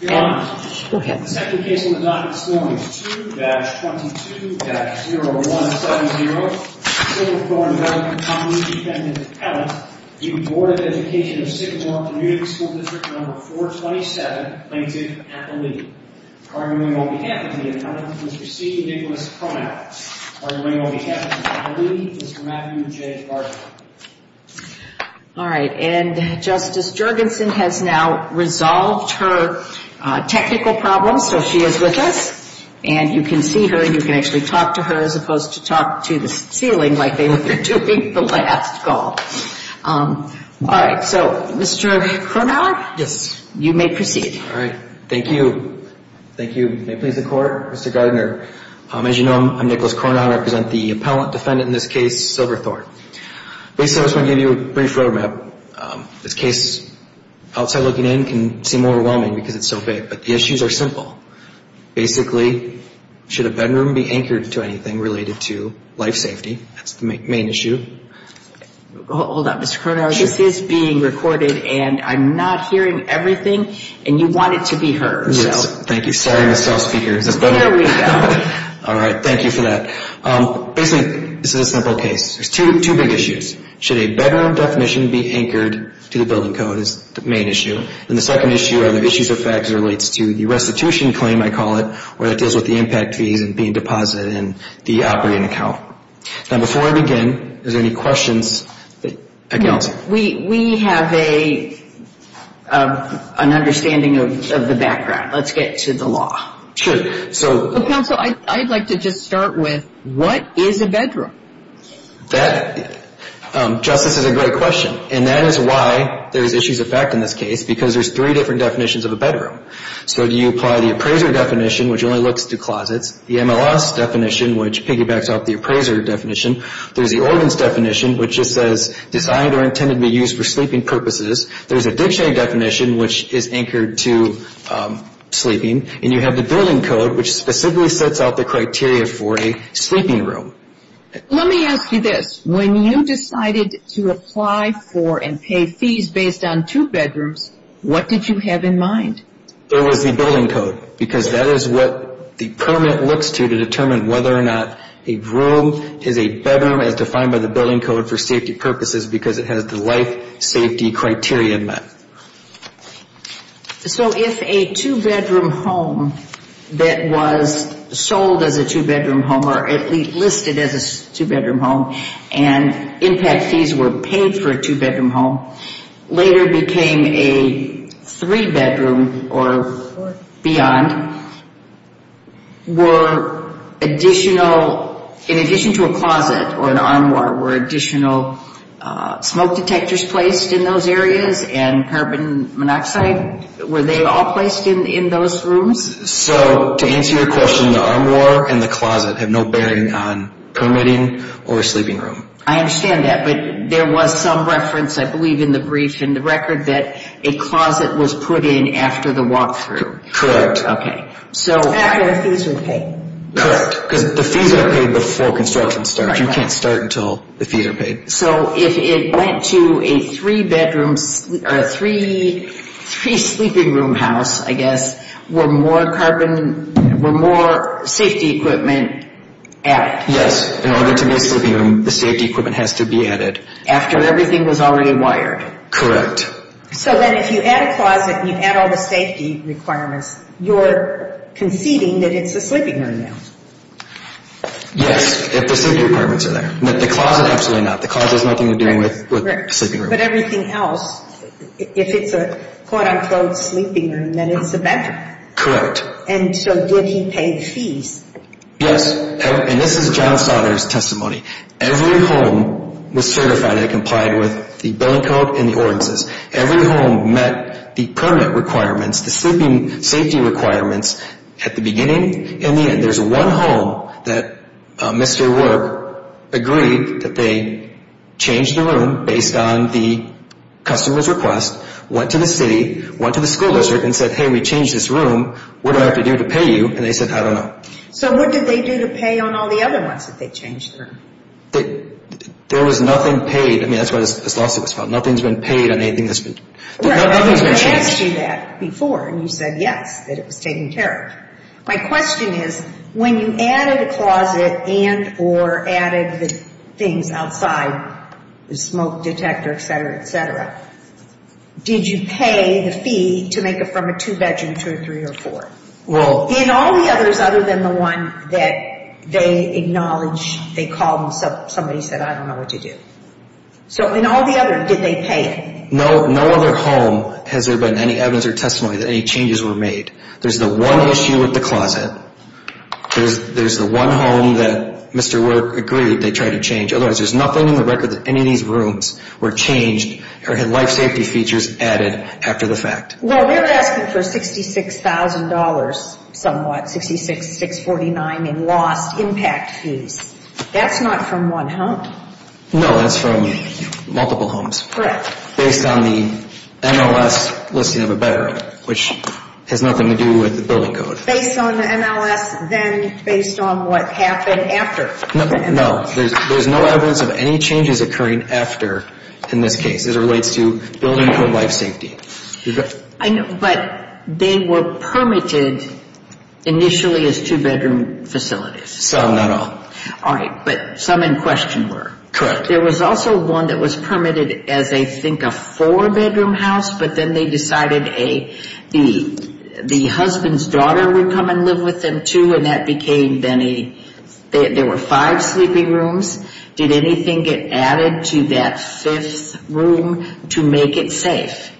Your Honor, the second case on the docket this morning is 2-22-0170 Silverthorne Development Company Defendant Appellant v. Board of Education of Sycamore Community School District Number 427, plaintiff, Atherley. Caringly, on behalf of the appellant, Mr. C. Nicholas Cronow. Caringly, on behalf of Atherley, Mr. Matthew J. Gardner. Caringly, on behalf of the appellant, Mr. Matthew J. Gardner. Mr. Cronow, you may proceed. Thank you. Thank you. May it please the Court, Mr. Gardner. As you know, I'm Nicholas Cronow. I represent the appellant defendant in this case, Silverthorne. Basically, I was going to give you a brief road map. But the issues are simple. Basically, should a bedroom be anchored to anything related to life safety? That's the main issue. Hold on, Mr. Cronow. This is being recorded, and I'm not hearing everything. And you want it to be heard. Thank you. Here we go. All right. Thank you for that. Basically, this is a simple case. There's two big issues. Should a bedroom definition be anchored to the building code? That's the main issue. And the second issue are the issues or facts that relates to the restitution claim, I call it, where it deals with the impact fees and being deposited in the operating account. Now, before I begin, are there any questions? No. We have an understanding of the background. Let's get to the law. Sure. Counsel, I'd like to just start with, what is a bedroom? That, Justice, is a great question. And that is why there's issues of fact in this case, because there's three different definitions of a bedroom. So you apply the appraiser definition, which only looks to closets, the MLS definition, which piggybacks off the appraiser definition. There's the ordinance definition, which just says, designed or intended to be used for sleeping purposes. There's a dictionary definition, which is anchored to sleeping. And you have the building code, which specifically sets out the criteria for a sleeping room. Let me ask you this. When you decided to apply for and pay fees based on two bedrooms, what did you have in mind? It was the building code, because that is what the permit looks to, to determine whether or not a room is a bedroom, as defined by the building code for safety purposes, because it has the life safety criteria in that. So if a two-bedroom home that was sold as a two-bedroom home or at least listed as a two-bedroom home and impact fees were paid for a two-bedroom home, later became a three-bedroom or beyond, were additional, in addition to a closet or an armoire, were additional smoke detectors placed in those areas and carbon monoxide, were they all placed in those rooms? So to answer your question, the armoire and the closet have no bearing on permitting or a sleeping room. I understand that, but there was some reference, I believe, in the brief in the record that a closet was put in after the walkthrough. Correct. Okay. After the fees were paid. Correct, because the fees are paid before construction starts. You can't start until the fees are paid. So if it went to a three-bedroom or a three-sleeping room house, I guess, were more safety equipment added? Yes, in order to make a sleeping room, the safety equipment has to be added. After everything was already wired? Correct. So then if you add a closet and you add all the safety requirements, you're conceding that it's a sleeping room now? Yes, if the safety requirements are there. But the closet, absolutely not. The closet has nothing to do with a sleeping room. But everything else, if it's a quote-unquote sleeping room, then it's a bedroom. Correct. And so did he pay the fees? Yes, and this is John Sautner's testimony. Every home was certified and complied with the building code and the ordinances. Every home met the permit requirements, the sleeping safety requirements at the beginning and the end. There's one home that Mr. Work agreed that they changed the room based on the customer's request, went to the city, went to the school district, and said, hey, we changed this room. What do I have to do to pay you? And they said, I don't know. So what did they do to pay on all the other ones that they changed the room? There was nothing paid. I mean, that's what this lawsuit was about. Nothing's been paid on anything that's been changed. I asked you that before, and you said yes, that it was taken care of. My question is, when you added a closet and or added the things outside, the smoke detector, et cetera, et cetera, did you pay the fee to make it from a two-bedroom to a three or four? In all the others other than the one that they acknowledged, they called and somebody said, I don't know what to do. So in all the others, did they pay? No other home has there been any evidence or testimony that any changes were made. There's the one issue with the closet. There's the one home that Mr. Work agreed they tried to change. Otherwise, there's nothing in the record that any of these rooms were changed or had life safety features added after the fact. Well, they're asking for $66,000 somewhat, 66,649 in lost impact fees. That's not from one home. No, that's from multiple homes. Correct. Based on the NLS listing of a bedroom, which has nothing to do with the building code. Based on the NLS, then based on what happened after. No, there's no evidence of any changes occurring after in this case as it relates to building code life safety. I know, but they were permitted initially as two-bedroom facilities. Some, not all. All right, but some in question were. Correct. There was also one that was permitted as, I think, a four-bedroom house, but then they decided the husband's daughter would come and live with them, too. And that became then a, there were five sleeping rooms. Did anything get added to that fifth room to make it safe?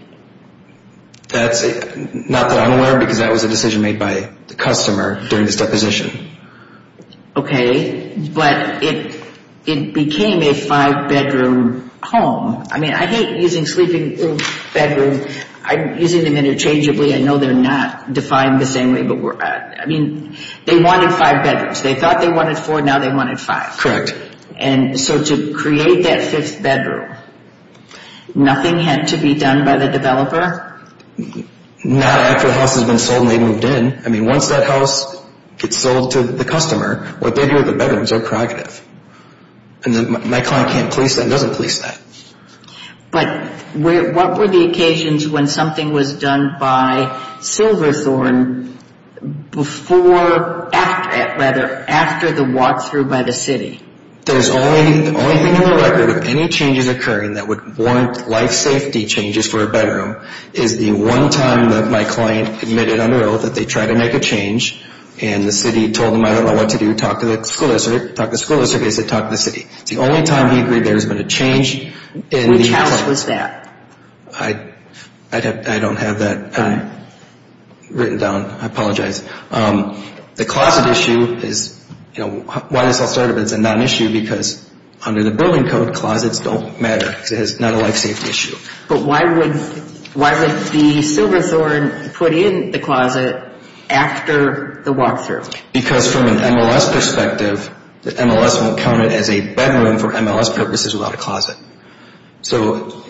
That's, not that I'm aware of, because that was a decision made by the customer during this deposition. Okay, but it became a five-bedroom home. I mean, I hate using sleeping room, bedroom, I'm using them interchangeably. I know they're not defined the same way, but we're, I mean, they wanted five bedrooms. They thought they wanted four, now they wanted five. Correct. And so to create that fifth bedroom, nothing had to be done by the developer? Not after the house has been sold and they've moved in. I mean, once that house gets sold to the customer, what they do with the bedrooms are proactive. And my client can't police that and doesn't police that. But what were the occasions when something was done by Silverthorne before, after, rather, after the walkthrough by the city? There's only, the only thing in the record of any changes occurring that would warrant life safety changes for a bedroom is the one time that my client admitted under oath that they tried to make a change and the city told them, I don't know what to do, talk to the school district, talk to the school district, they said talk to the city. It's the only time he agreed there's been a change. Which house was that? I don't have that written down. I apologize. The closet issue is, you know, why this all started, it's a non-issue because under the building code, closets don't matter. It's not a life safety issue. But why would, why would the Silverthorne put in the closet after the walkthrough? Because from an MLS perspective, the MLS won't count it as a bedroom for MLS purposes without a closet. So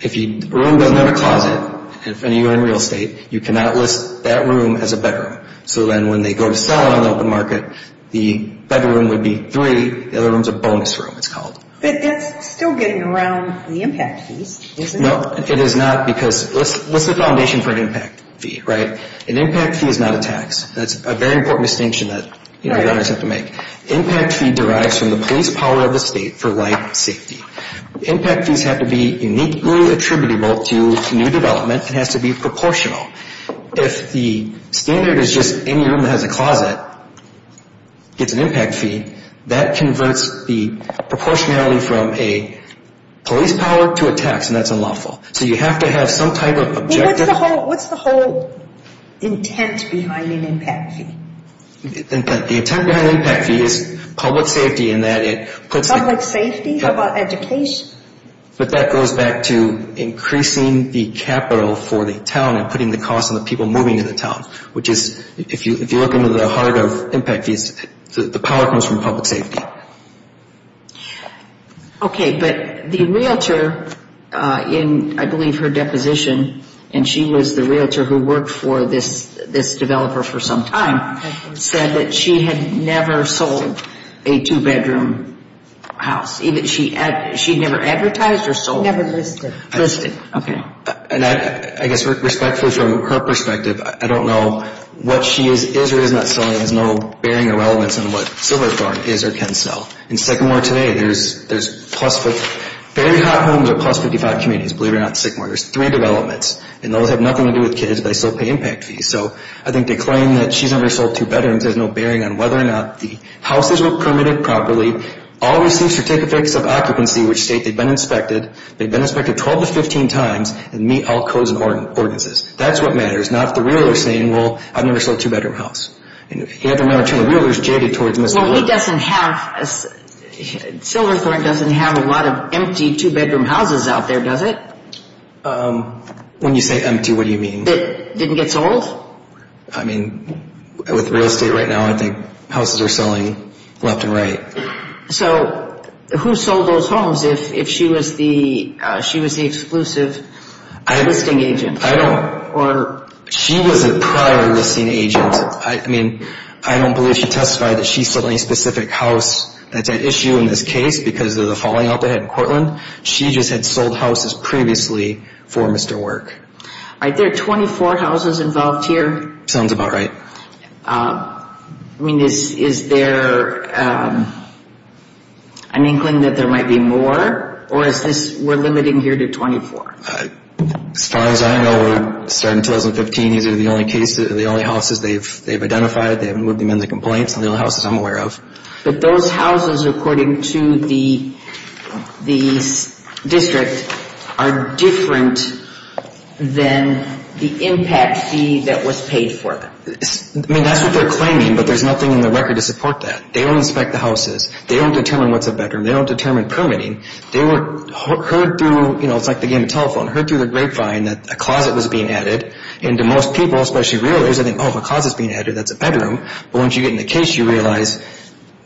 if a room doesn't have a closet, and if any of you are in real estate, you cannot list that room as a bedroom. So then when they go to sell it on the open market, the bedroom would be three, the other room's a bonus room it's called. But that's still getting around the impact fees, isn't it? No, it is not because, what's the foundation for an impact fee, right? An impact fee is not a tax. That's a very important distinction that, you know, you always have to make. Impact fee derives from the police power of the state for life safety. Impact fees have to be uniquely attributable to new development. It has to be proportional. If the standard is just any room that has a closet gets an impact fee, that converts the proportionality from a police power to a tax, and that's unlawful. So you have to have some type of objective. Well, what's the whole, what's the whole intent behind an impact fee? The intent behind an impact fee is public safety in that it puts... Public safety? How about education? But that goes back to increasing the capital for the town and putting the cost on the people moving to the town, which is, if you look into the heart of impact fees, the power comes from public safety. Okay, but the realtor in, I believe, her deposition, and she was the realtor who worked for this developer for some time, said that she had never sold a two-bedroom house. She never advertised or sold? Never listed. Listed, okay. And I guess respectfully from her perspective, I don't know what she is or is not selling has no bearing or relevance in what Silverthorne is or can sell. In Sycamore today, there's plus, very hot homes are plus 55 communities, believe it or not, in Sycamore. There's three developments, and those have nothing to do with kids, but they still pay impact fees. So I think they claim that she's never sold two bedrooms. There's no bearing on whether or not the houses were permitted properly. All received certificates of occupancy, which state they've been inspected. They've been inspected 12 to 15 times and meet all codes and ordinances. That's what matters, not the realtor saying, well, I've never sold a two-bedroom house. And if you have the amount of realtors jaded towards Mr. Miller... Well, he doesn't have, Silverthorne doesn't have a lot of empty two-bedroom houses out there, does it? When you say empty, what do you mean? That didn't get sold? I mean, with real estate right now, I think houses are selling left and right. So who sold those homes if she was the exclusive listing agent? I don't... Or... She was a prior listing agent. I mean, I don't believe she testified that she sold any specific house. That's an issue in this case because of the falling out they had in Cortland. She just had sold houses previously for Mr. Work. Are there 24 houses involved here? Sounds about right. I mean, is there an inkling that there might be more? Or is this, we're limiting here to 24? As far as I know, we're starting 2015. These are the only cases, the only houses they've identified. They haven't moved them into complaints. They're the only houses I'm aware of. But those houses, according to the district, are different than the impact fee that was paid for them. I mean, that's what they're claiming, but there's nothing in the record to support that. They don't inspect the houses. They don't determine what's a bedroom. They don't determine permitting. They were heard through, you know, it's like the game of telephone, heard through the grapevine that a closet was being added. And to most people, especially realtors, they think, oh, if a closet's being added, that's a bedroom. But once you get in the case, you realize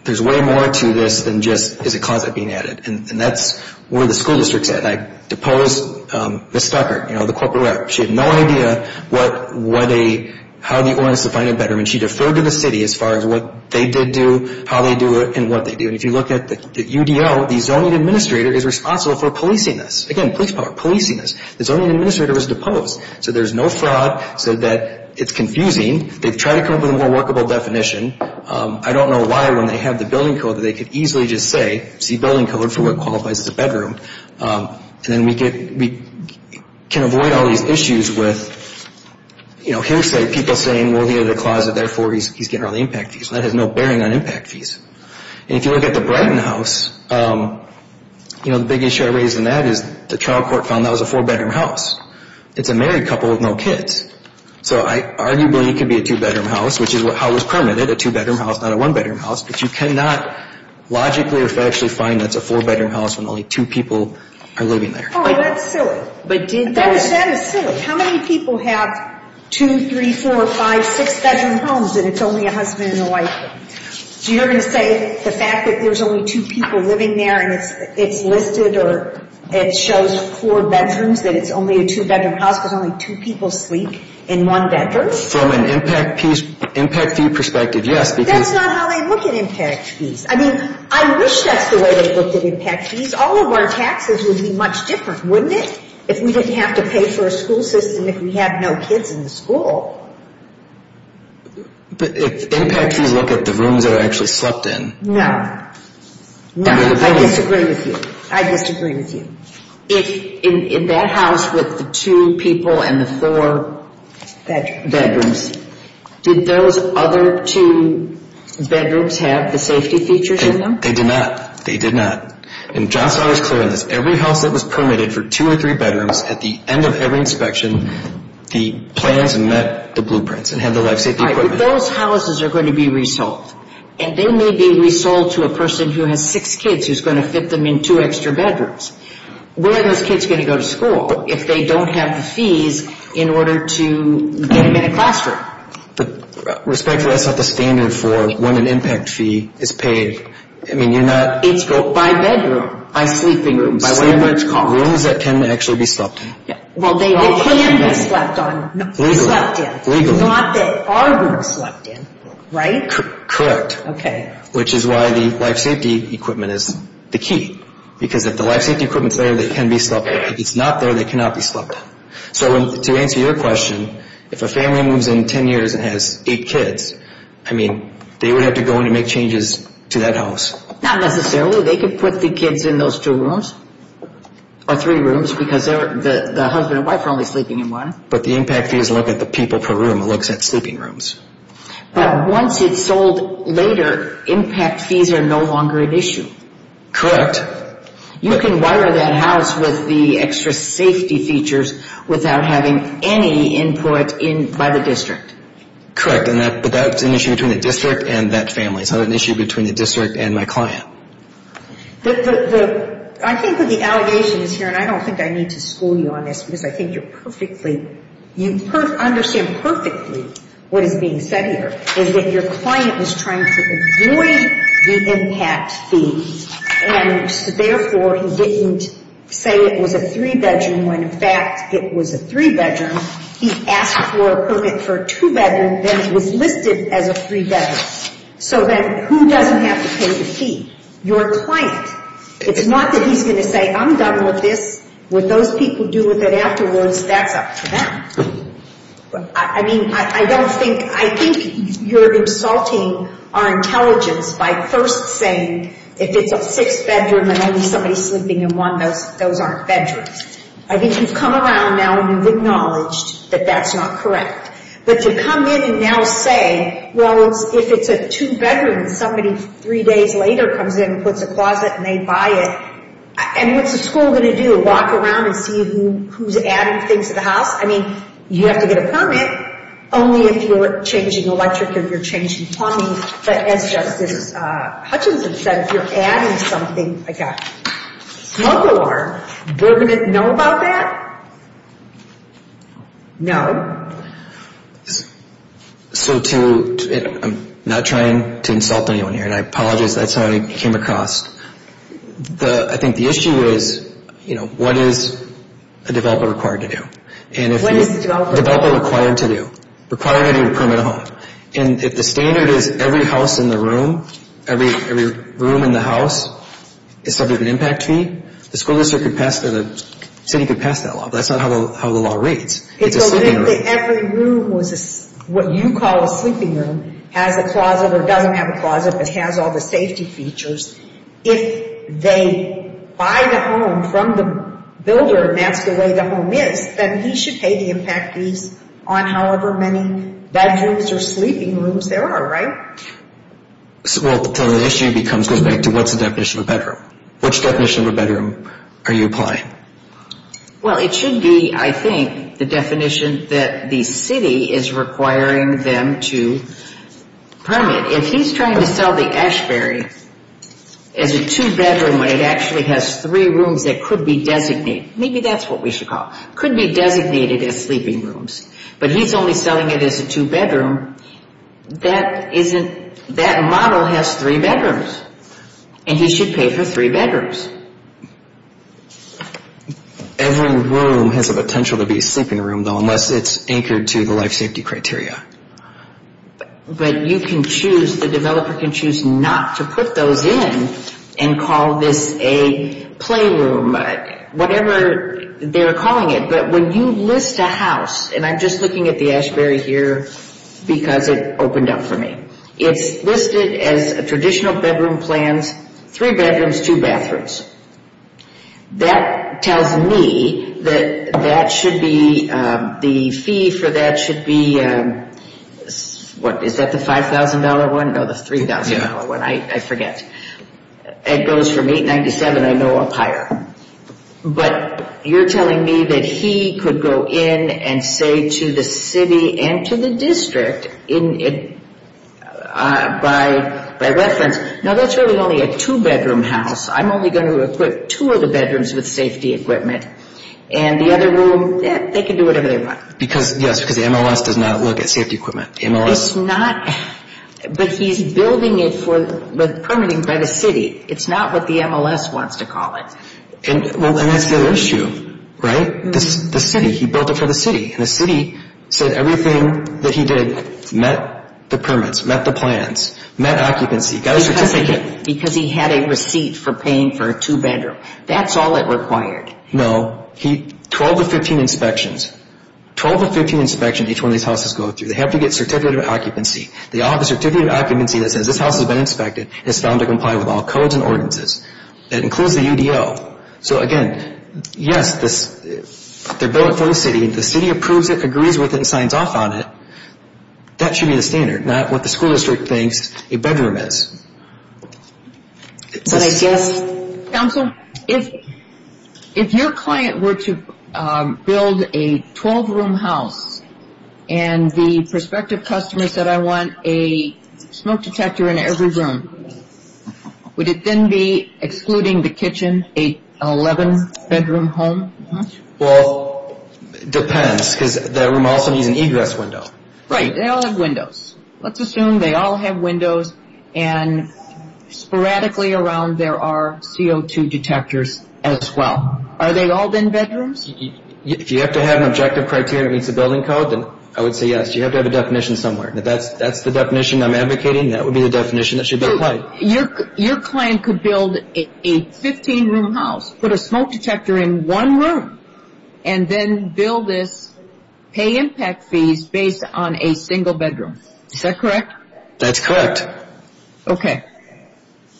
there's way more to this than just is a closet being added. And that's where the school district's at. I deposed Ms. Stuckert, you know, the corporate rep. She had no idea what a, how the ordinance defined a bedroom. And she deferred to the city as far as what they did do, how they do it, and what they do. And if you look at the UDL, the zoning administrator is responsible for policing this. Again, police power, policing this. The zoning administrator was deposed. So there's no fraud, so that it's confusing. They've tried to come up with a more workable definition. I don't know why, when they have the building code, that they could easily just say, see building code for what qualifies as a bedroom. And then we get, we can avoid all these issues with, you know, hearsay, people saying, well, here's a closet, therefore he's getting all the impact fees. That has no bearing on impact fees. And if you look at the Brighton house, you know, the big issue I raise in that is the trial court found that was a four-bedroom house. It's a married couple with no kids. So arguably it could be a two-bedroom house, which is how it was permitted, a two-bedroom house, not a one-bedroom house. But you cannot logically or factually find that it's a four-bedroom house when only two people are living there. Oh, that's silly. But did they? That is silly. How many people have two, three, four, five, six-bedroom homes and it's only a husband and a wife? So you're going to say the fact that there's only two people living there and it's listed or it shows four bedrooms, that it's only a two-bedroom house because only two people sleep? In one bedroom? From an impact fee perspective, yes. That's not how they look at impact fees. I mean, I wish that's the way they looked at impact fees. All of our taxes would be much different, wouldn't it? If we didn't have to pay for a school system if we have no kids in the school. But if impact fees look at the rooms that are actually slept in. No. I disagree with you. I disagree with you. If in that house with the two people and the four bedrooms, did those other two bedrooms have the safety features in them? They did not. They did not. And John saw this clearly. Every house that was permitted for two or three bedrooms at the end of every inspection, the plans met the blueprints and had the life safety equipment. Those houses are going to be resold. And they may be resold to a person who has six kids who's going to fit them in two extra bedrooms. Where are those kids going to go to school if they don't have the fees in order to get them in a classroom? Respectfully, that's not the standard for when an impact fee is paid. I mean, you're not... It's by bedroom. By sleeping room. By whatever it's called. Rooms that can actually be slept in. They can be slept in. Legally. Not that are rooms slept in. Right? Correct. Which is why the life safety equipment is the key. Because if the life safety equipment is there, they can be slept in. If it's not there, they cannot be slept in. So to answer your question, if a family moves in in ten years and has eight kids, I mean, they would have to go in and make changes to that house. Not necessarily. They could put the kids in those two rooms or three rooms because the husband and wife are only sleeping in one. But the impact fees look at the people per room. It looks at sleeping rooms. But once it's sold later, impact fees are no longer an issue. Correct. You can wire that house with the extra safety features without having any input by the district. Correct. But that's an issue between the district and that family. It's not an issue between the district and my client. The... I think that the allegation is here, and I don't think I need to school you on this because I think you're perfectly... You understand perfectly what is being said here. Is that your client is trying to avoid the impact fees and therefore he didn't say it was a three-bedroom when in fact it was a three-bedroom. He asked for a permit for a two-bedroom that was listed as a three-bedroom. So then who doesn't have to pay the fee? Your client. It's not that he's going to say, I'm done with this. What those people do with it afterwards, that's up to them. I mean, I don't think... I think you're insulting our intelligence by first saying if it's a six-bedroom and only somebody sleeping in one, those aren't bedrooms. I think you've come around now and you've acknowledged that that's not correct. But to come in and now say, well, if it's a two-bedroom and somebody three days later comes in and puts a closet and they buy it, and what's the school going to do? Walk around and see who's adding things to the house? I mean, you have to get a permit only if you're changing electric or you're changing plumbing. Hutchinson said if you're adding something like a smoke alarm, they're going to know about that? No. So to... I'm not trying to insult anyone here and I apologize if that's how I came across. I think the issue is, you know, what is a developer required to do? What is a developer required to do? A developer required to do? Requiring anyone to permit a home. And if the standard is every house in the room, every room in the house, is subject to an impact fee, the school district could pass, the city could pass that law. But that's not how the law reads. It's a sleeping room. So if every room was what you call a sleeping room, has a closet or doesn't have a closet but has all the safety features, if they buy the home from the builder and that's the way the home is, then he should pay the impact fees on however many bedrooms or sleeping rooms there are, right? So the issue goes back to what's the definition of a bedroom? Which definition of a bedroom are you applying? Well, it should be, I think, the definition that the city is requiring them to permit. If he's trying to sell the Ashberry as a two-bedroom when it actually has three rooms that could be designated, maybe that's what we should call it, could be designated as sleeping rooms, but he's only selling it as a two-bedroom, three bedrooms. And he should pay for three bedrooms. Every room has a potential to be a sleeping room, though, unless it's anchored to the life safety criteria. But you can choose, the developer can choose not to put those in and call this a playroom, whatever they're calling it. But when you list a house, and I'm just looking at the Ashberry here because it opened up for me. It's listed as a traditional bedroom plans, three bedrooms, two bathrooms. That tells me that that should be, the fee for that should be, what, is that the $5,000 one? No, the $3,000 one, I forget. It goes from $897, I know, up higher. But you're telling me that he could go in and say to the city and to the district, by reference, no, that's really only a two-bedroom house. I'm only going to equip two of the bedrooms with safety equipment. And the other room, yeah, they can do whatever they want. Because, yes, because the MLS does not look at safety equipment. It's not, but he's building it for, permitting by the city. It's not what the MLS wants to call it. And that's the issue, right? The city, he built it for the city. And the city said everything that he did met the permits, met the plans, met occupancy, got a certificate. Because he had a receipt for paying for a two-bedroom. That's all it required. No, 12 to 15 inspections. 12 to 15 inspections each one of these houses go through. They have to get certificate of occupancy. They all have a certificate of occupancy that says this house has been inspected and is found to comply with all codes and ordinances. That includes the UDL. So, again, yes, they're building it for the city. If the city approves it, agrees with it, and signs off on it, that should be the standard, not what the school district thinks a bedroom is. But I guess, Counsel, if your client were to build a 12-room house and the prospective customer said I want a smoke detector in every room, would it then be excluding the kitchen, a 11-bedroom home? Well, it depends. Because that room also needs an egress window. Right. They all have windows. Let's assume they all have windows and sporadically around there are CO2 detectors as well. Are they all then bedrooms? If you have to have an objective criteria that meets the building code, then I would say yes. You have to have a definition somewhere. If that's the definition I'm advocating, that would be the definition that should be applied. A 12-room house. Put a smoke detector in one room and then bill this pay impact fees based on a single bedroom. Is that correct? That's correct. Okay.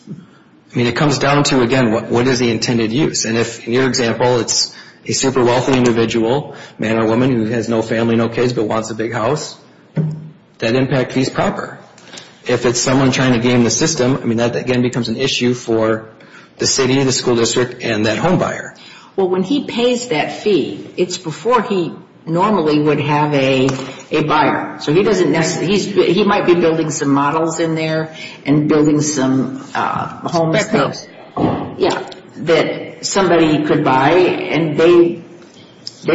I mean, it comes down to, again, what is the intended use? And if, in your example, it's a super wealthy individual, a man or woman who has no family, no kids, but wants a big house, that impact fee is proper. If it's someone trying to game the system, I mean, that again becomes an issue for the city, the school district, and that home buyer. Well, when he pays that fee, it's before he normally would have a buyer. So he doesn't necessarily, he might be building some models in there and building some homes that somebody could buy and they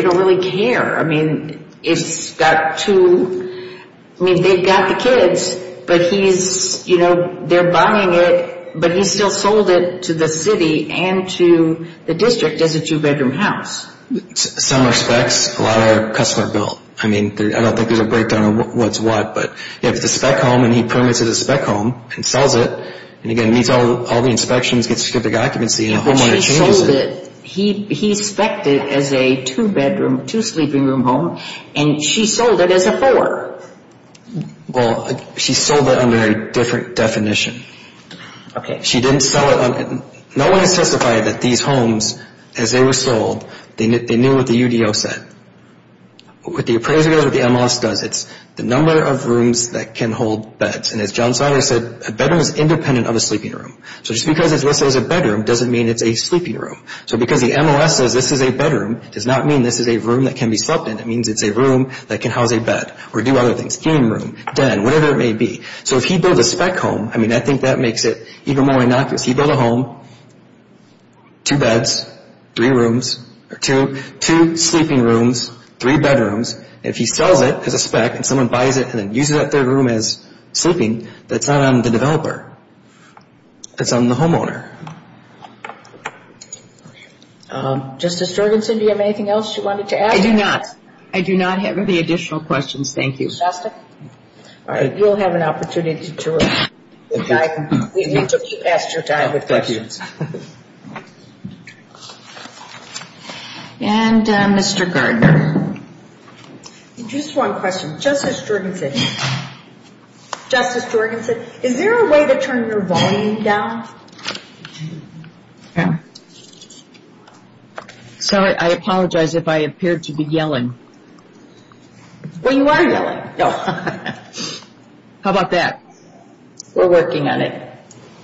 don't really care. I mean, it's got to, I mean, they've got the kids, but he's, you know, they're buying it, but he's still sold it to the city and to the district as a two-bedroom house. Some are specs. A lot are customer built. I mean, I don't think there's a breakdown of what's what, but if it's a spec home and he permits it as a spec home and sells it, and again meets all the inspections, gets a certificate of occupancy, and a homeowner changes it. He sold it under a different definition. She didn't sell it. No one has testified that these homes, as they were sold, they knew what the UDO said. What the appraiser does, what the MOS does, it's the number of rooms that can hold beds. And as John Sawyer said, a bedroom is independent of a sleeping room. So just because it's listed as a bedroom doesn't mean it's a sleeping room. So because the MOS says this is a bedroom does not mean this is a room that can be slept in. It means it's a room that can house a bed independently. So if he built a spec home, I mean I think that makes it even more innocuous. He built a home, two beds, two sleeping rooms, three bedrooms, and if he sells it as a spec and someone buys it and uses that third room as sleeping, that's not on the developer. That's on the homeowner. Justice Jorgensen, do you have anything else you wanted to add? I do not. Thank you for the opportunity to talk. You took your time with questions. Thank you. And Mr. Gardner. Just one question. Justice Jorgensen, Justice Jorgensen, is there a way to turn your volume down? Sorry, I apologize if I appear to be yelling. Well you are yelling. How about that? We're working on it.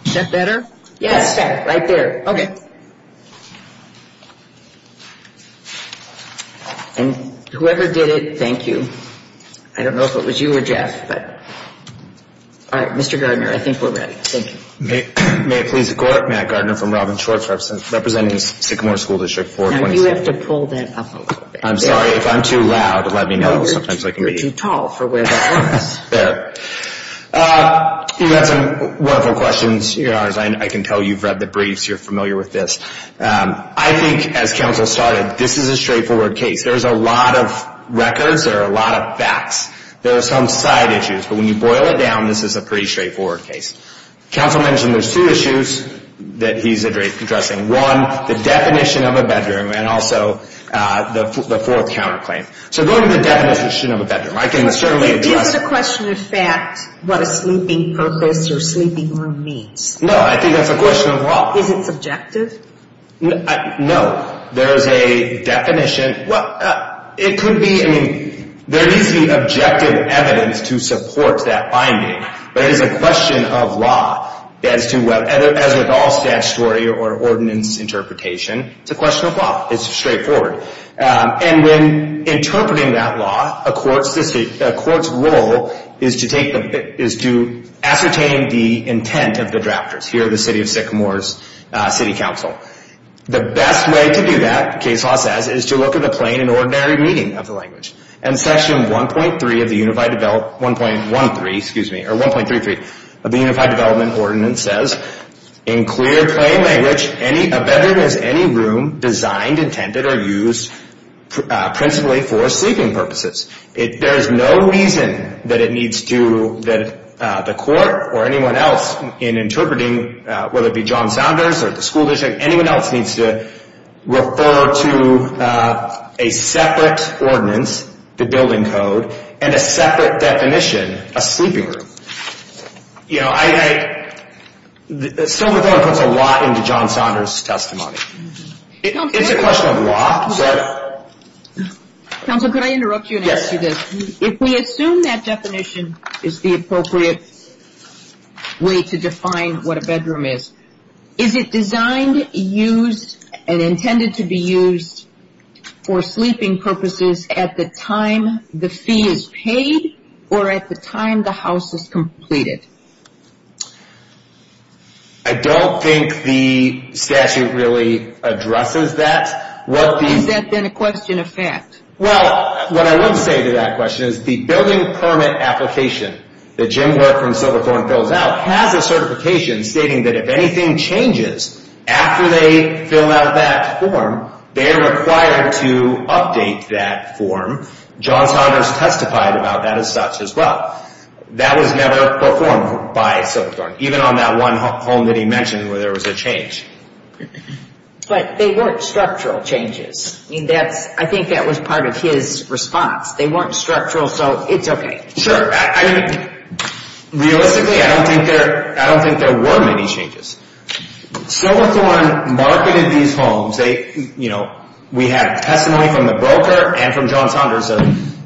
Is that better? Yes. Right there. Okay. And whoever did it, thank you. I don't know if it was you or Jeff, but all right, Mr. Gardner, I think we're ready. Thank you. May it please the Court, Matt Gardner from Robin Shorts, representing Sycamore School District 426. Now you have to pull that up a little bit. I'm sorry, if I'm too loud, let me know. You're too tall for where that was. There. You had some wonderful questions. I can tell you've read the briefs. You're familiar with this. I think, as counsel started, this is a straightforward case. There's a lot of records. There are a lot of facts. There are some side issues, but when you boil it down, there are a lot of things that he's addressing. One, the definition of a bedroom, and also the fourth counterclaim. So going to the definition of a bedroom, I can certainly address it. Is the question of fact what a sleeping purpose or sleeping room means? No, I think that's a question of law. Is it subjective? No. There is a definition. It could be. There needs to be objective evidence or a statutory or ordinance interpretation. It's a question of law. It's straightforward. When interpreting that law, a court's role is to ascertain the intent of the drafters. Here, the City of Sycamore's City Council. The best way to do that, the case law says, is to look at the plain and ordinary meaning of the language. Section 1.33 of the Unified Development Ordinance says, to reclaim language, a bedroom is any room designed, intended, or used principally for sleeping purposes. There is no reason that the court or anyone else in interpreting, whether it be John Saunders or the school district, anyone else needs to refer to a separate ordinance, the building code, and a separate definition, a sleeping room. I'm not into John Saunders' testimony. It's a question of law. Sorry. Counsel, could I interrupt you and ask you this? If we assume that definition is the appropriate way to define what a bedroom is, is it designed, used, and intended to be used for sleeping purposes at the time the fee is paid or at the time the house is completed? I don't think the statute really addresses that. Is that then a question of fact? Well, what I would say to that question is the building permit application that Jim Work from Silverthorne fills out has a certification stating that if anything changes after they fill out that form, they are required to update that form. John Saunders testified about that as such as well. That was never performed by Silverthorne, even on that one home that he mentioned where there was a change. But they weren't structural changes. I think that was part of his response. They weren't structural, so it's okay. Sure. Realistically, I don't think there were many changes.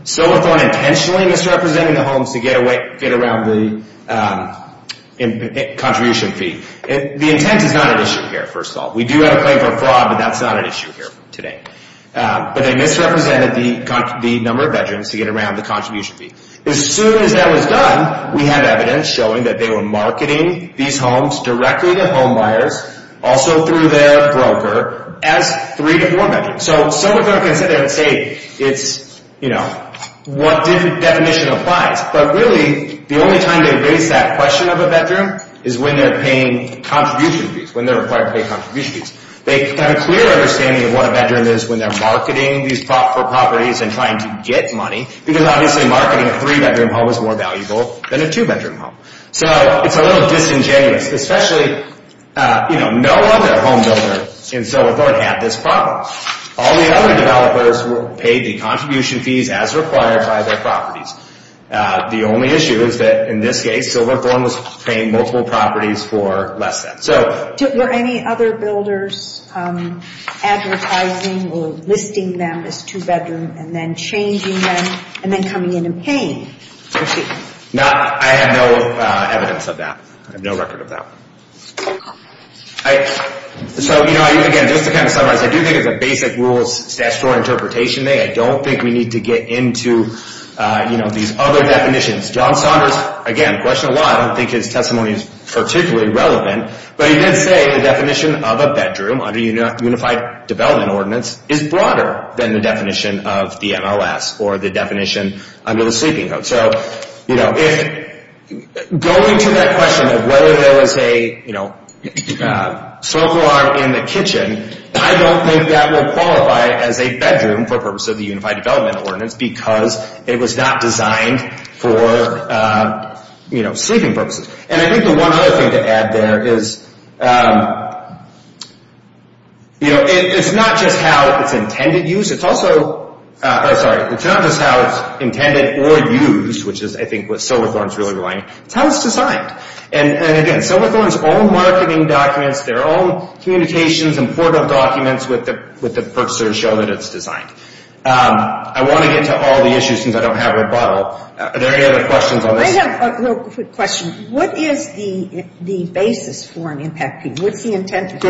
They intentionally misrepresented the homes to get around the contribution fee. The intent is not an issue here, first of all. We do have a claim for fraud, but that's not an issue here today. But they misrepresented the number of bedrooms to get around the contribution fee. As soon as that was done, we have evidence showing that they were marketing these homes for properties. The definition applies. But really, the only time they raise that question of a bedroom is when they are required to pay contribution fees. They have a clear understanding of what a bedroom is when they are marketing these properties and trying to get money. Because obviously marketing a 3-bedroom home is more valuable than paying for properties. The only issue is that in this case, Silverthorne was paying multiple properties for less than. Were any other builders advertising or listing them as 2-bedroom and then changing them and then coming in and paying? I have no evidence of that. I have no record of that. Just to summarize, John Saunders questioned a lot. I don't think his testimony is particularly relevant. But he did say the definition of a bedroom under the Unified Development Ordinance is broader than the definition of the MLS or the definition under the Sleeping Code. Going to that question of whether there was a sofa in the kitchen, I don't think that will qualify as a bedroom for purpose of the Unified Development Ordinance because it was not designed for sleeping purposes. I think the one other thing to add there is it's not just how it's intended or used, which is what Silverthorne is really relying on, Silverthorne's own marketing documents, their own communications and portal documents with the purchasers show that it's designed. I want to get to all the issues since I don't have a bottle. Are there any other questions on this? I have a real quick question. What is the basis for an impact peak? Do you have the facilities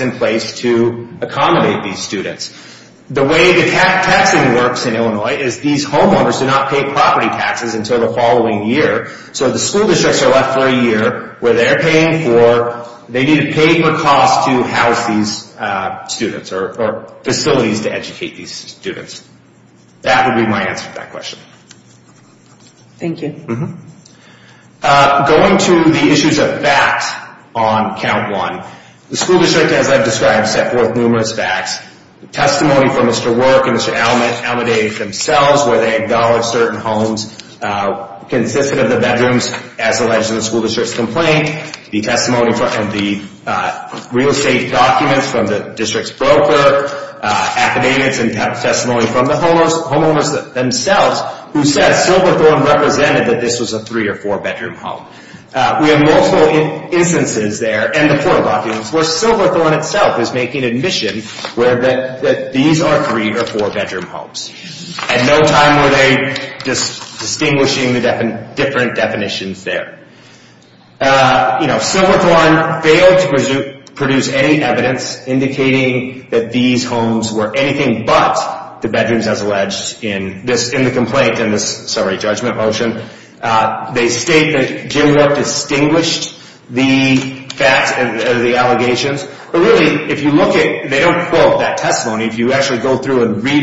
in place to accommodate these students? The way the taxing works in Illinois is these homeowners do not pay property taxes until the following year. So the school districts are left for a year where they need to pay for costs to house these students or facilities to educate these students. The school district, as I've described, set forth numerous facts. Testimony from Mr. Work and Mr. Almodavid themselves where they acknowledge certain homes consisted of the bedrooms as alleged in the school district's complaint. The testimony from the real estate documents from Silverthorne itself is making admission that these are three or four bedroom homes. At no time were they distinguishing the different definitions there. Silverthorne failed to produce any evidence indicating that these homes were anything but bedrooms. They don't quote that testimony. If you read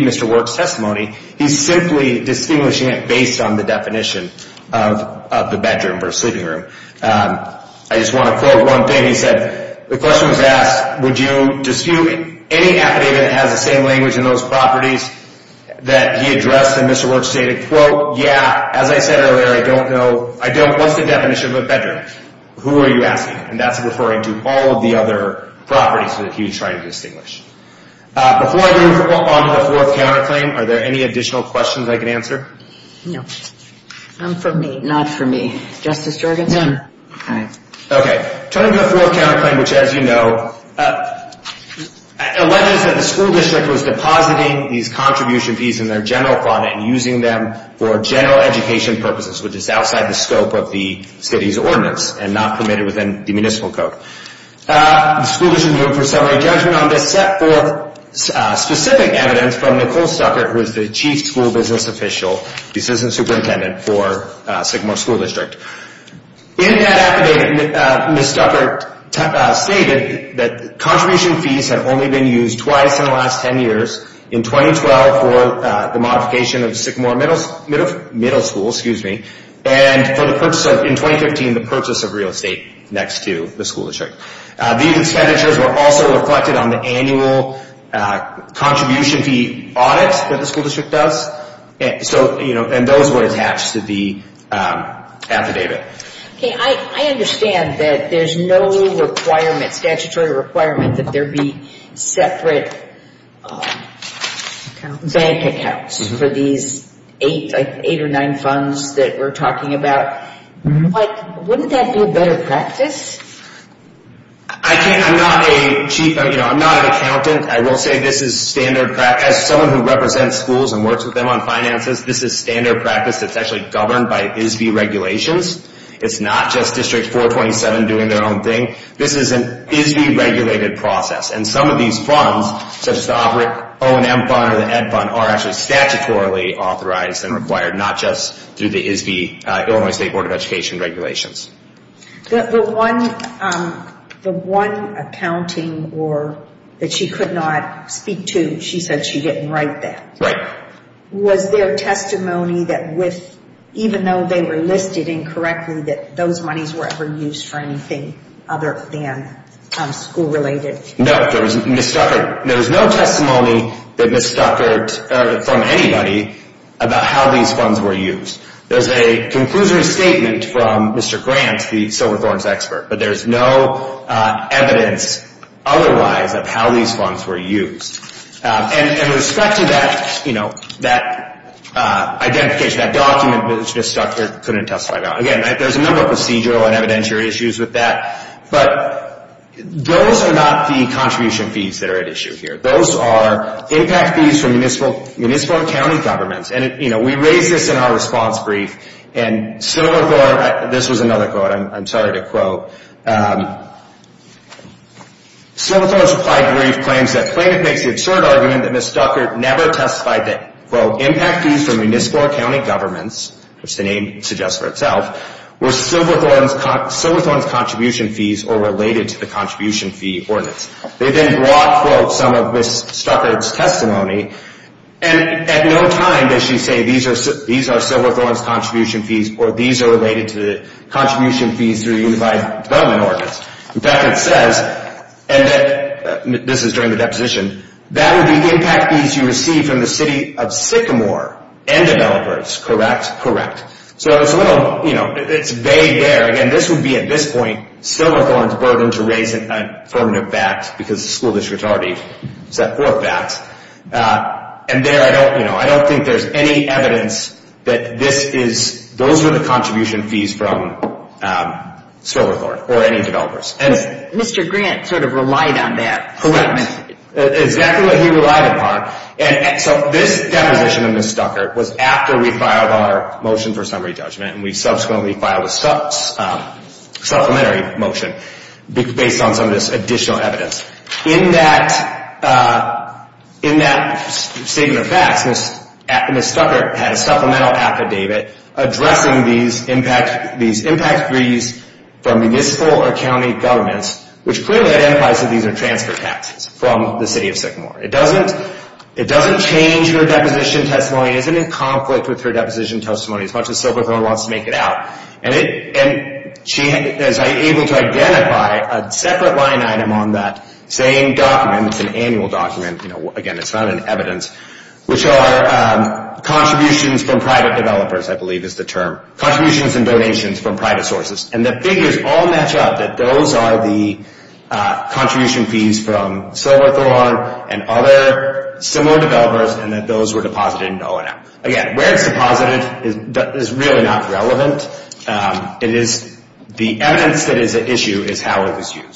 Mr. Work's testimony, he's simply distinguishing it based on the definition of the bedroom. The question was asked, would you dispute any affidavit that Mr. Almodavid is claiming that these homes were bedrooms? Almodavid did not dispute any affidavit that Mr. Almodavid is claiming that these homes were bedrooms. The school district ruled for summary judgment on this set forth specific evidence from Nicole Stuckert who is the chief school business official, the citizen superintendent for Sycamore School District. In that affidavit, Ms. Stuckert stated that these measures were also reflected on the annual contribution fee audit that the school district does. Those were attached to the affidavit. I understand that there's no statutory requirement that there be separate bank accounts for these funds. I'm not an accountant. I will say this is standard practice. As someone who represents schools and works with them on finances, this is standard practice. It's actually governed by ISB regulations. It's not just District 427 doing their own thing. This is an ISB regulated process. Some of these funds are actually statutorily authorized and required. The one accounting that she could not speak to, she said she didn't write that. Was there testimony that even though there was no testimony that Ms. Stuckert from anybody about how these funds were used? There's a conclusory statement from Mr. Grant, the Silverthorne's expert, but there's no evidence otherwise of how these funds were used. Those are not the contribution fees that are at issue here. Those are impact fees from municipal and county governments. We raised this in our response brief. Silverthorne's applied brief claims that plaintiff makes the absurd argument that Ms. Stuckert's related to the contribution fee ordinance. At no time does she say these are Silverthorne's contribution fees or these are related to the contribution fees through the Unified Development Ordinance. This is during the deposition. That would be impact fees you receive from the City of Sycamore and developers, correct? Correct. It's vague there. Again, this would be at this point Silverthorne's burden to raise affirmative facts against Silverthorne or any developers. Mr. Grant sort of relied on that. Correct. This deposition of Ms. Stuckert was after we filed our motion for summary judgment and we subsequently filed a supplementary motion based on some of this additional evidence. In addition, Ms. Stuckert was able to are transfer taxes from the City of Sycamore. It doesn't change her deposition at this point. The figures all match up that those are the contribution fees from Silverthorne and other similar developers and that those were deposited into O&M. Again, where it's deposited is really not relevant. The evidence that is at issue is how the funds were transferred. And the is at issue is the fact that funds to O&M. The evidence that Mr. Grant was able to transfer funds from O&M to Ed,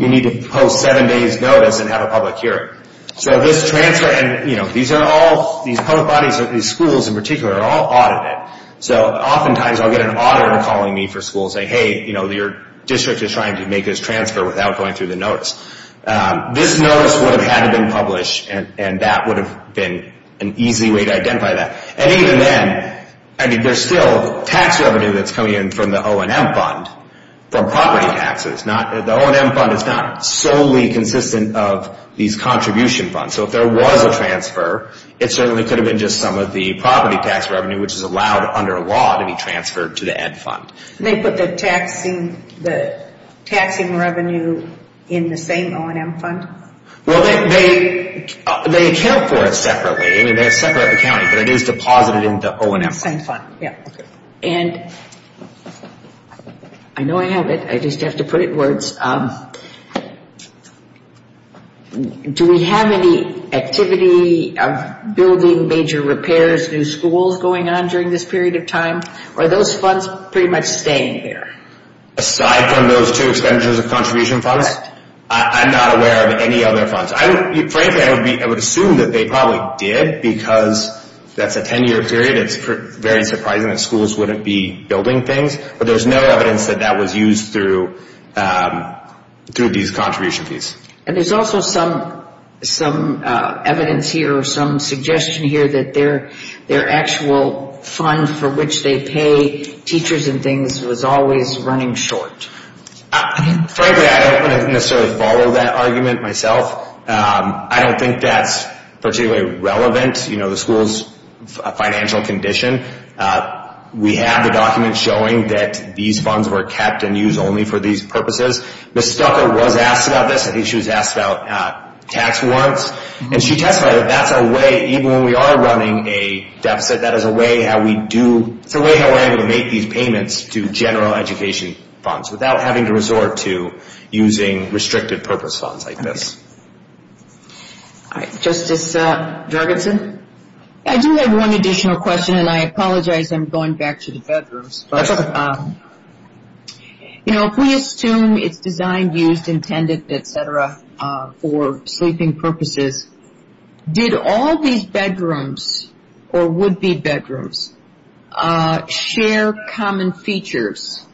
you need to post seven days notice and have a public hearing. These public bodies, these schools in particular, are all audited. Oftentimes, I'll get an auditor calling me for school saying, hey, your district is trying to make this transfer without going through O&M. So tax revenue that's coming in from the O&M fund, from property taxes, the O&M fund is not solely consistent of these contribution funds. So if there was a transfer, it certainly could have been just some of the property tax revenue which is allowed under law to be transferred to the school. And I know I have it. I just have to put it words. Do we have any activity of building major repairs, new schools going on during this period of time? Are those funds pretty much staying there? Aside from those two expenditures of contribution funds, I'm not aware of any other funds that would be building things, but there's no evidence that that was used through these contribution fees. And there's also some evidence here or some suggestion here that their actual fund for which they pay teachers and things was always running short. Frankly, I don't want to necessarily follow that argument myself. I have a document showing that these funds were kept and used only for these purposes. Ms. Stucker was asked about this. I think she was asked about tax warrants. And she testified that that's a way, even when we are running a deficit, that is a way how we're able to make these payments to general education funds for the benefit of that's true for all bedrooms. If we assume it's designed, used, intended, etc. for sleeping purposes, did all these bedrooms or would-be bedrooms share common features?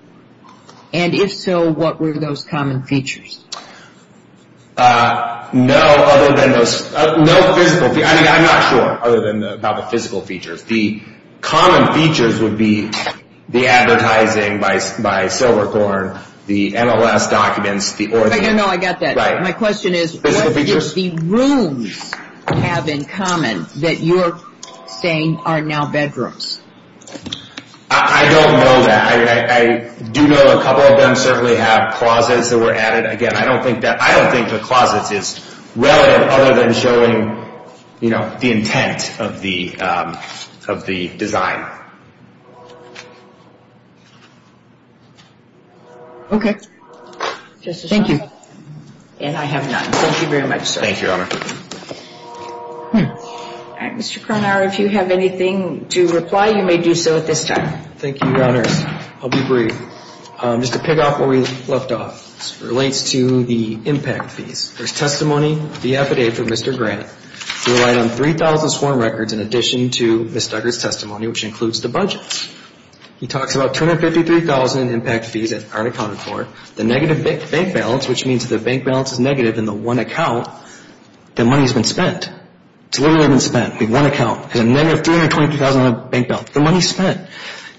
And if so, what were those common features? The advertising by Silverthorne, the NLS documents. I got that. My question is what did the rooms have in common that you're saying are now bedrooms? I don't know that. I do know a couple of them certainly have closets that were added. I don't think the closets is relevant at this time. Okay. Thank you. And I have none. Thank you very much, sir. Thank you, Your Honor. Mr. Cronauer, if you have anything to reply, you may do so at this time. Thank you, Your Honor. I'll be brief. Just to pick up where we left off, this relates to the impact fees. He talks about 253,000 impact fees that aren't accounted for, the negative bank balance, which means the bank balance is negative in the one account, the money has been spent. It's literally been spent in one account. The money spent.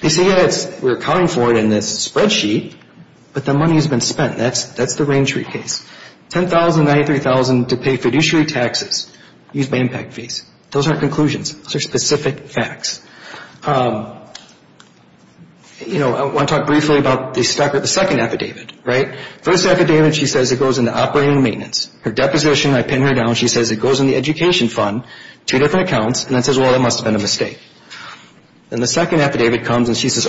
They say, yes, we're accounting for it in this spreadsheet, but the money has been spent. I want to talk briefly about the second affidavit. First affidavit, she says it goes into operating maintenance. Her deposition, I pin her down, she says it goes in the education fund, two different accounts, and then says, well, that must have been a mistake. Then the second affidavit comes and there's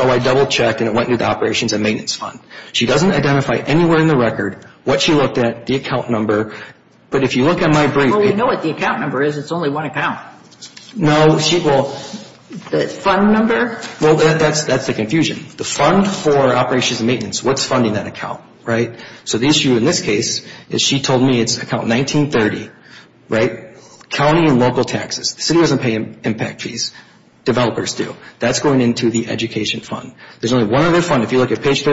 a confusion. The fund for operations and maintenance, what's funding that account? In this case, she told me it's account 1930, county and local taxes. The city doesn't pay impact fees. Developers do. That's going into the education fund. There's only one other fund that could possibly be used. It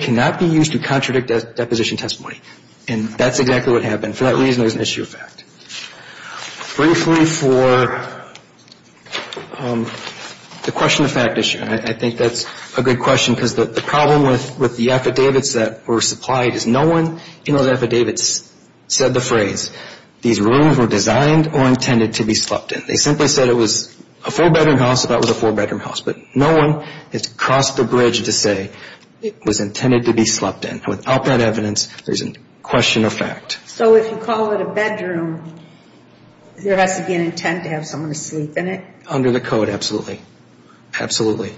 cannot be used to contradict a deposition testimony, and that's exactly what happened. For that reason, there's an issue of fact. Briefly for the question of fact issue, I think that's a good question because the problem with the affidavits that were supplied is no one in those affidavits said the defendant should be slept in. Without that evidence, there's a question of fact. So if you call it a bedroom, there has to be an intent to have someone sleep in it? Under the code, absolutely. Absolutely.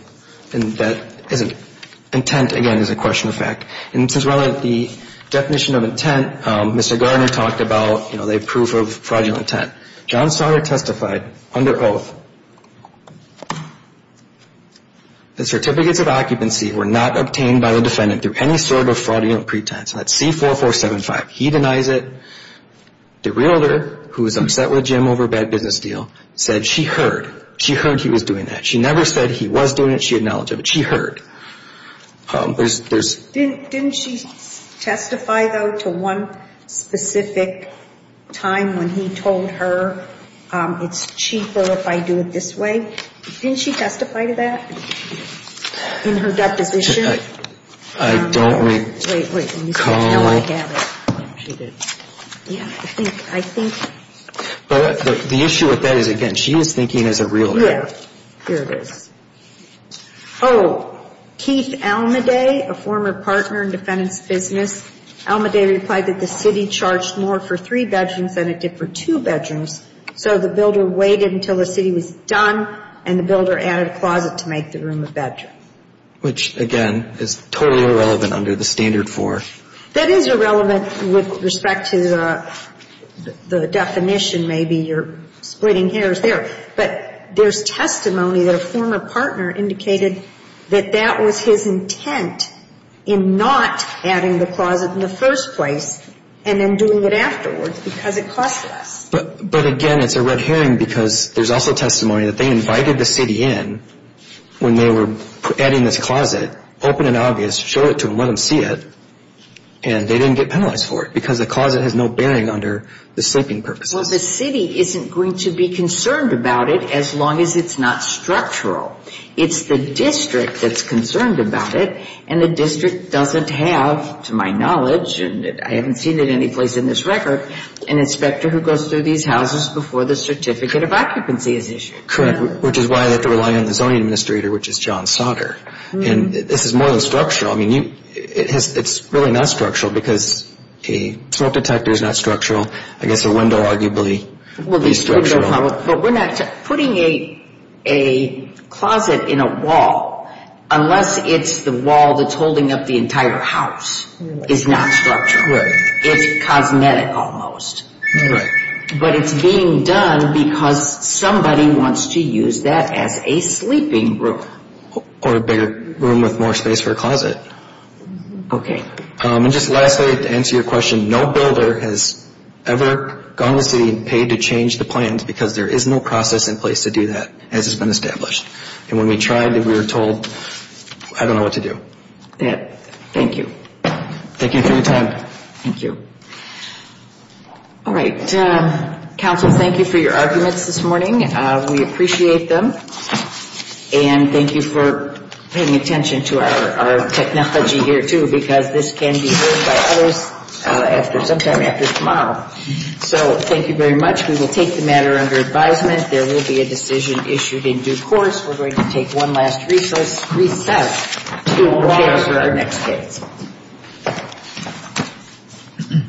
Intent, again, is a question of fact. The definition of fact is that the defendant should sleep in it. That's the definition of fact. That's the definition of fact. I don't recall... Wait, wait. No, I have it. Yeah, I think... But the issue with that is, again, she is thinking as a real... Yeah, here it is. Oh, Keith Almaday, a former partner in defendant's business, Almaday replied that the city charged more for three bedrooms than it did for two bedrooms. That's totally irrelevant under the standard for... That is irrelevant with respect to the definition, maybe you're splitting hairs there. But there's testimony that a former partner indicated that that was his intent in not adding the closet in the first place and then doing it afterwards because it cost less. So the city didn't show it to him, let him see it, and they didn't get penalized for it because the closet has no bearing under the sleeping purposes. Well, the city isn't going to be concerned about it as long as it's not structural. It's the district that's concerned about it, and the district doesn't care about it. I mean, it's really not structural because a smoke detector is not structural, I guess a window arguably is structural. Putting a closet in a wall, unless it's the wall that's holding up the entire house, is not structural. It's cosmetic almost. But it's being done because somebody wants it. Okay. And just lastly, to answer your question, no builder has ever gone to the city and paid to change the plans because there is no process in place to do that as it's been established. And when we tried, we were told, I don't know what to do. Thank you. Thank you for your apology here, too, because this can be heard by others sometime after tomorrow. So thank you very much. We will take the matter under advisement. There will be a decision issued in due course. We're going to take one last recess.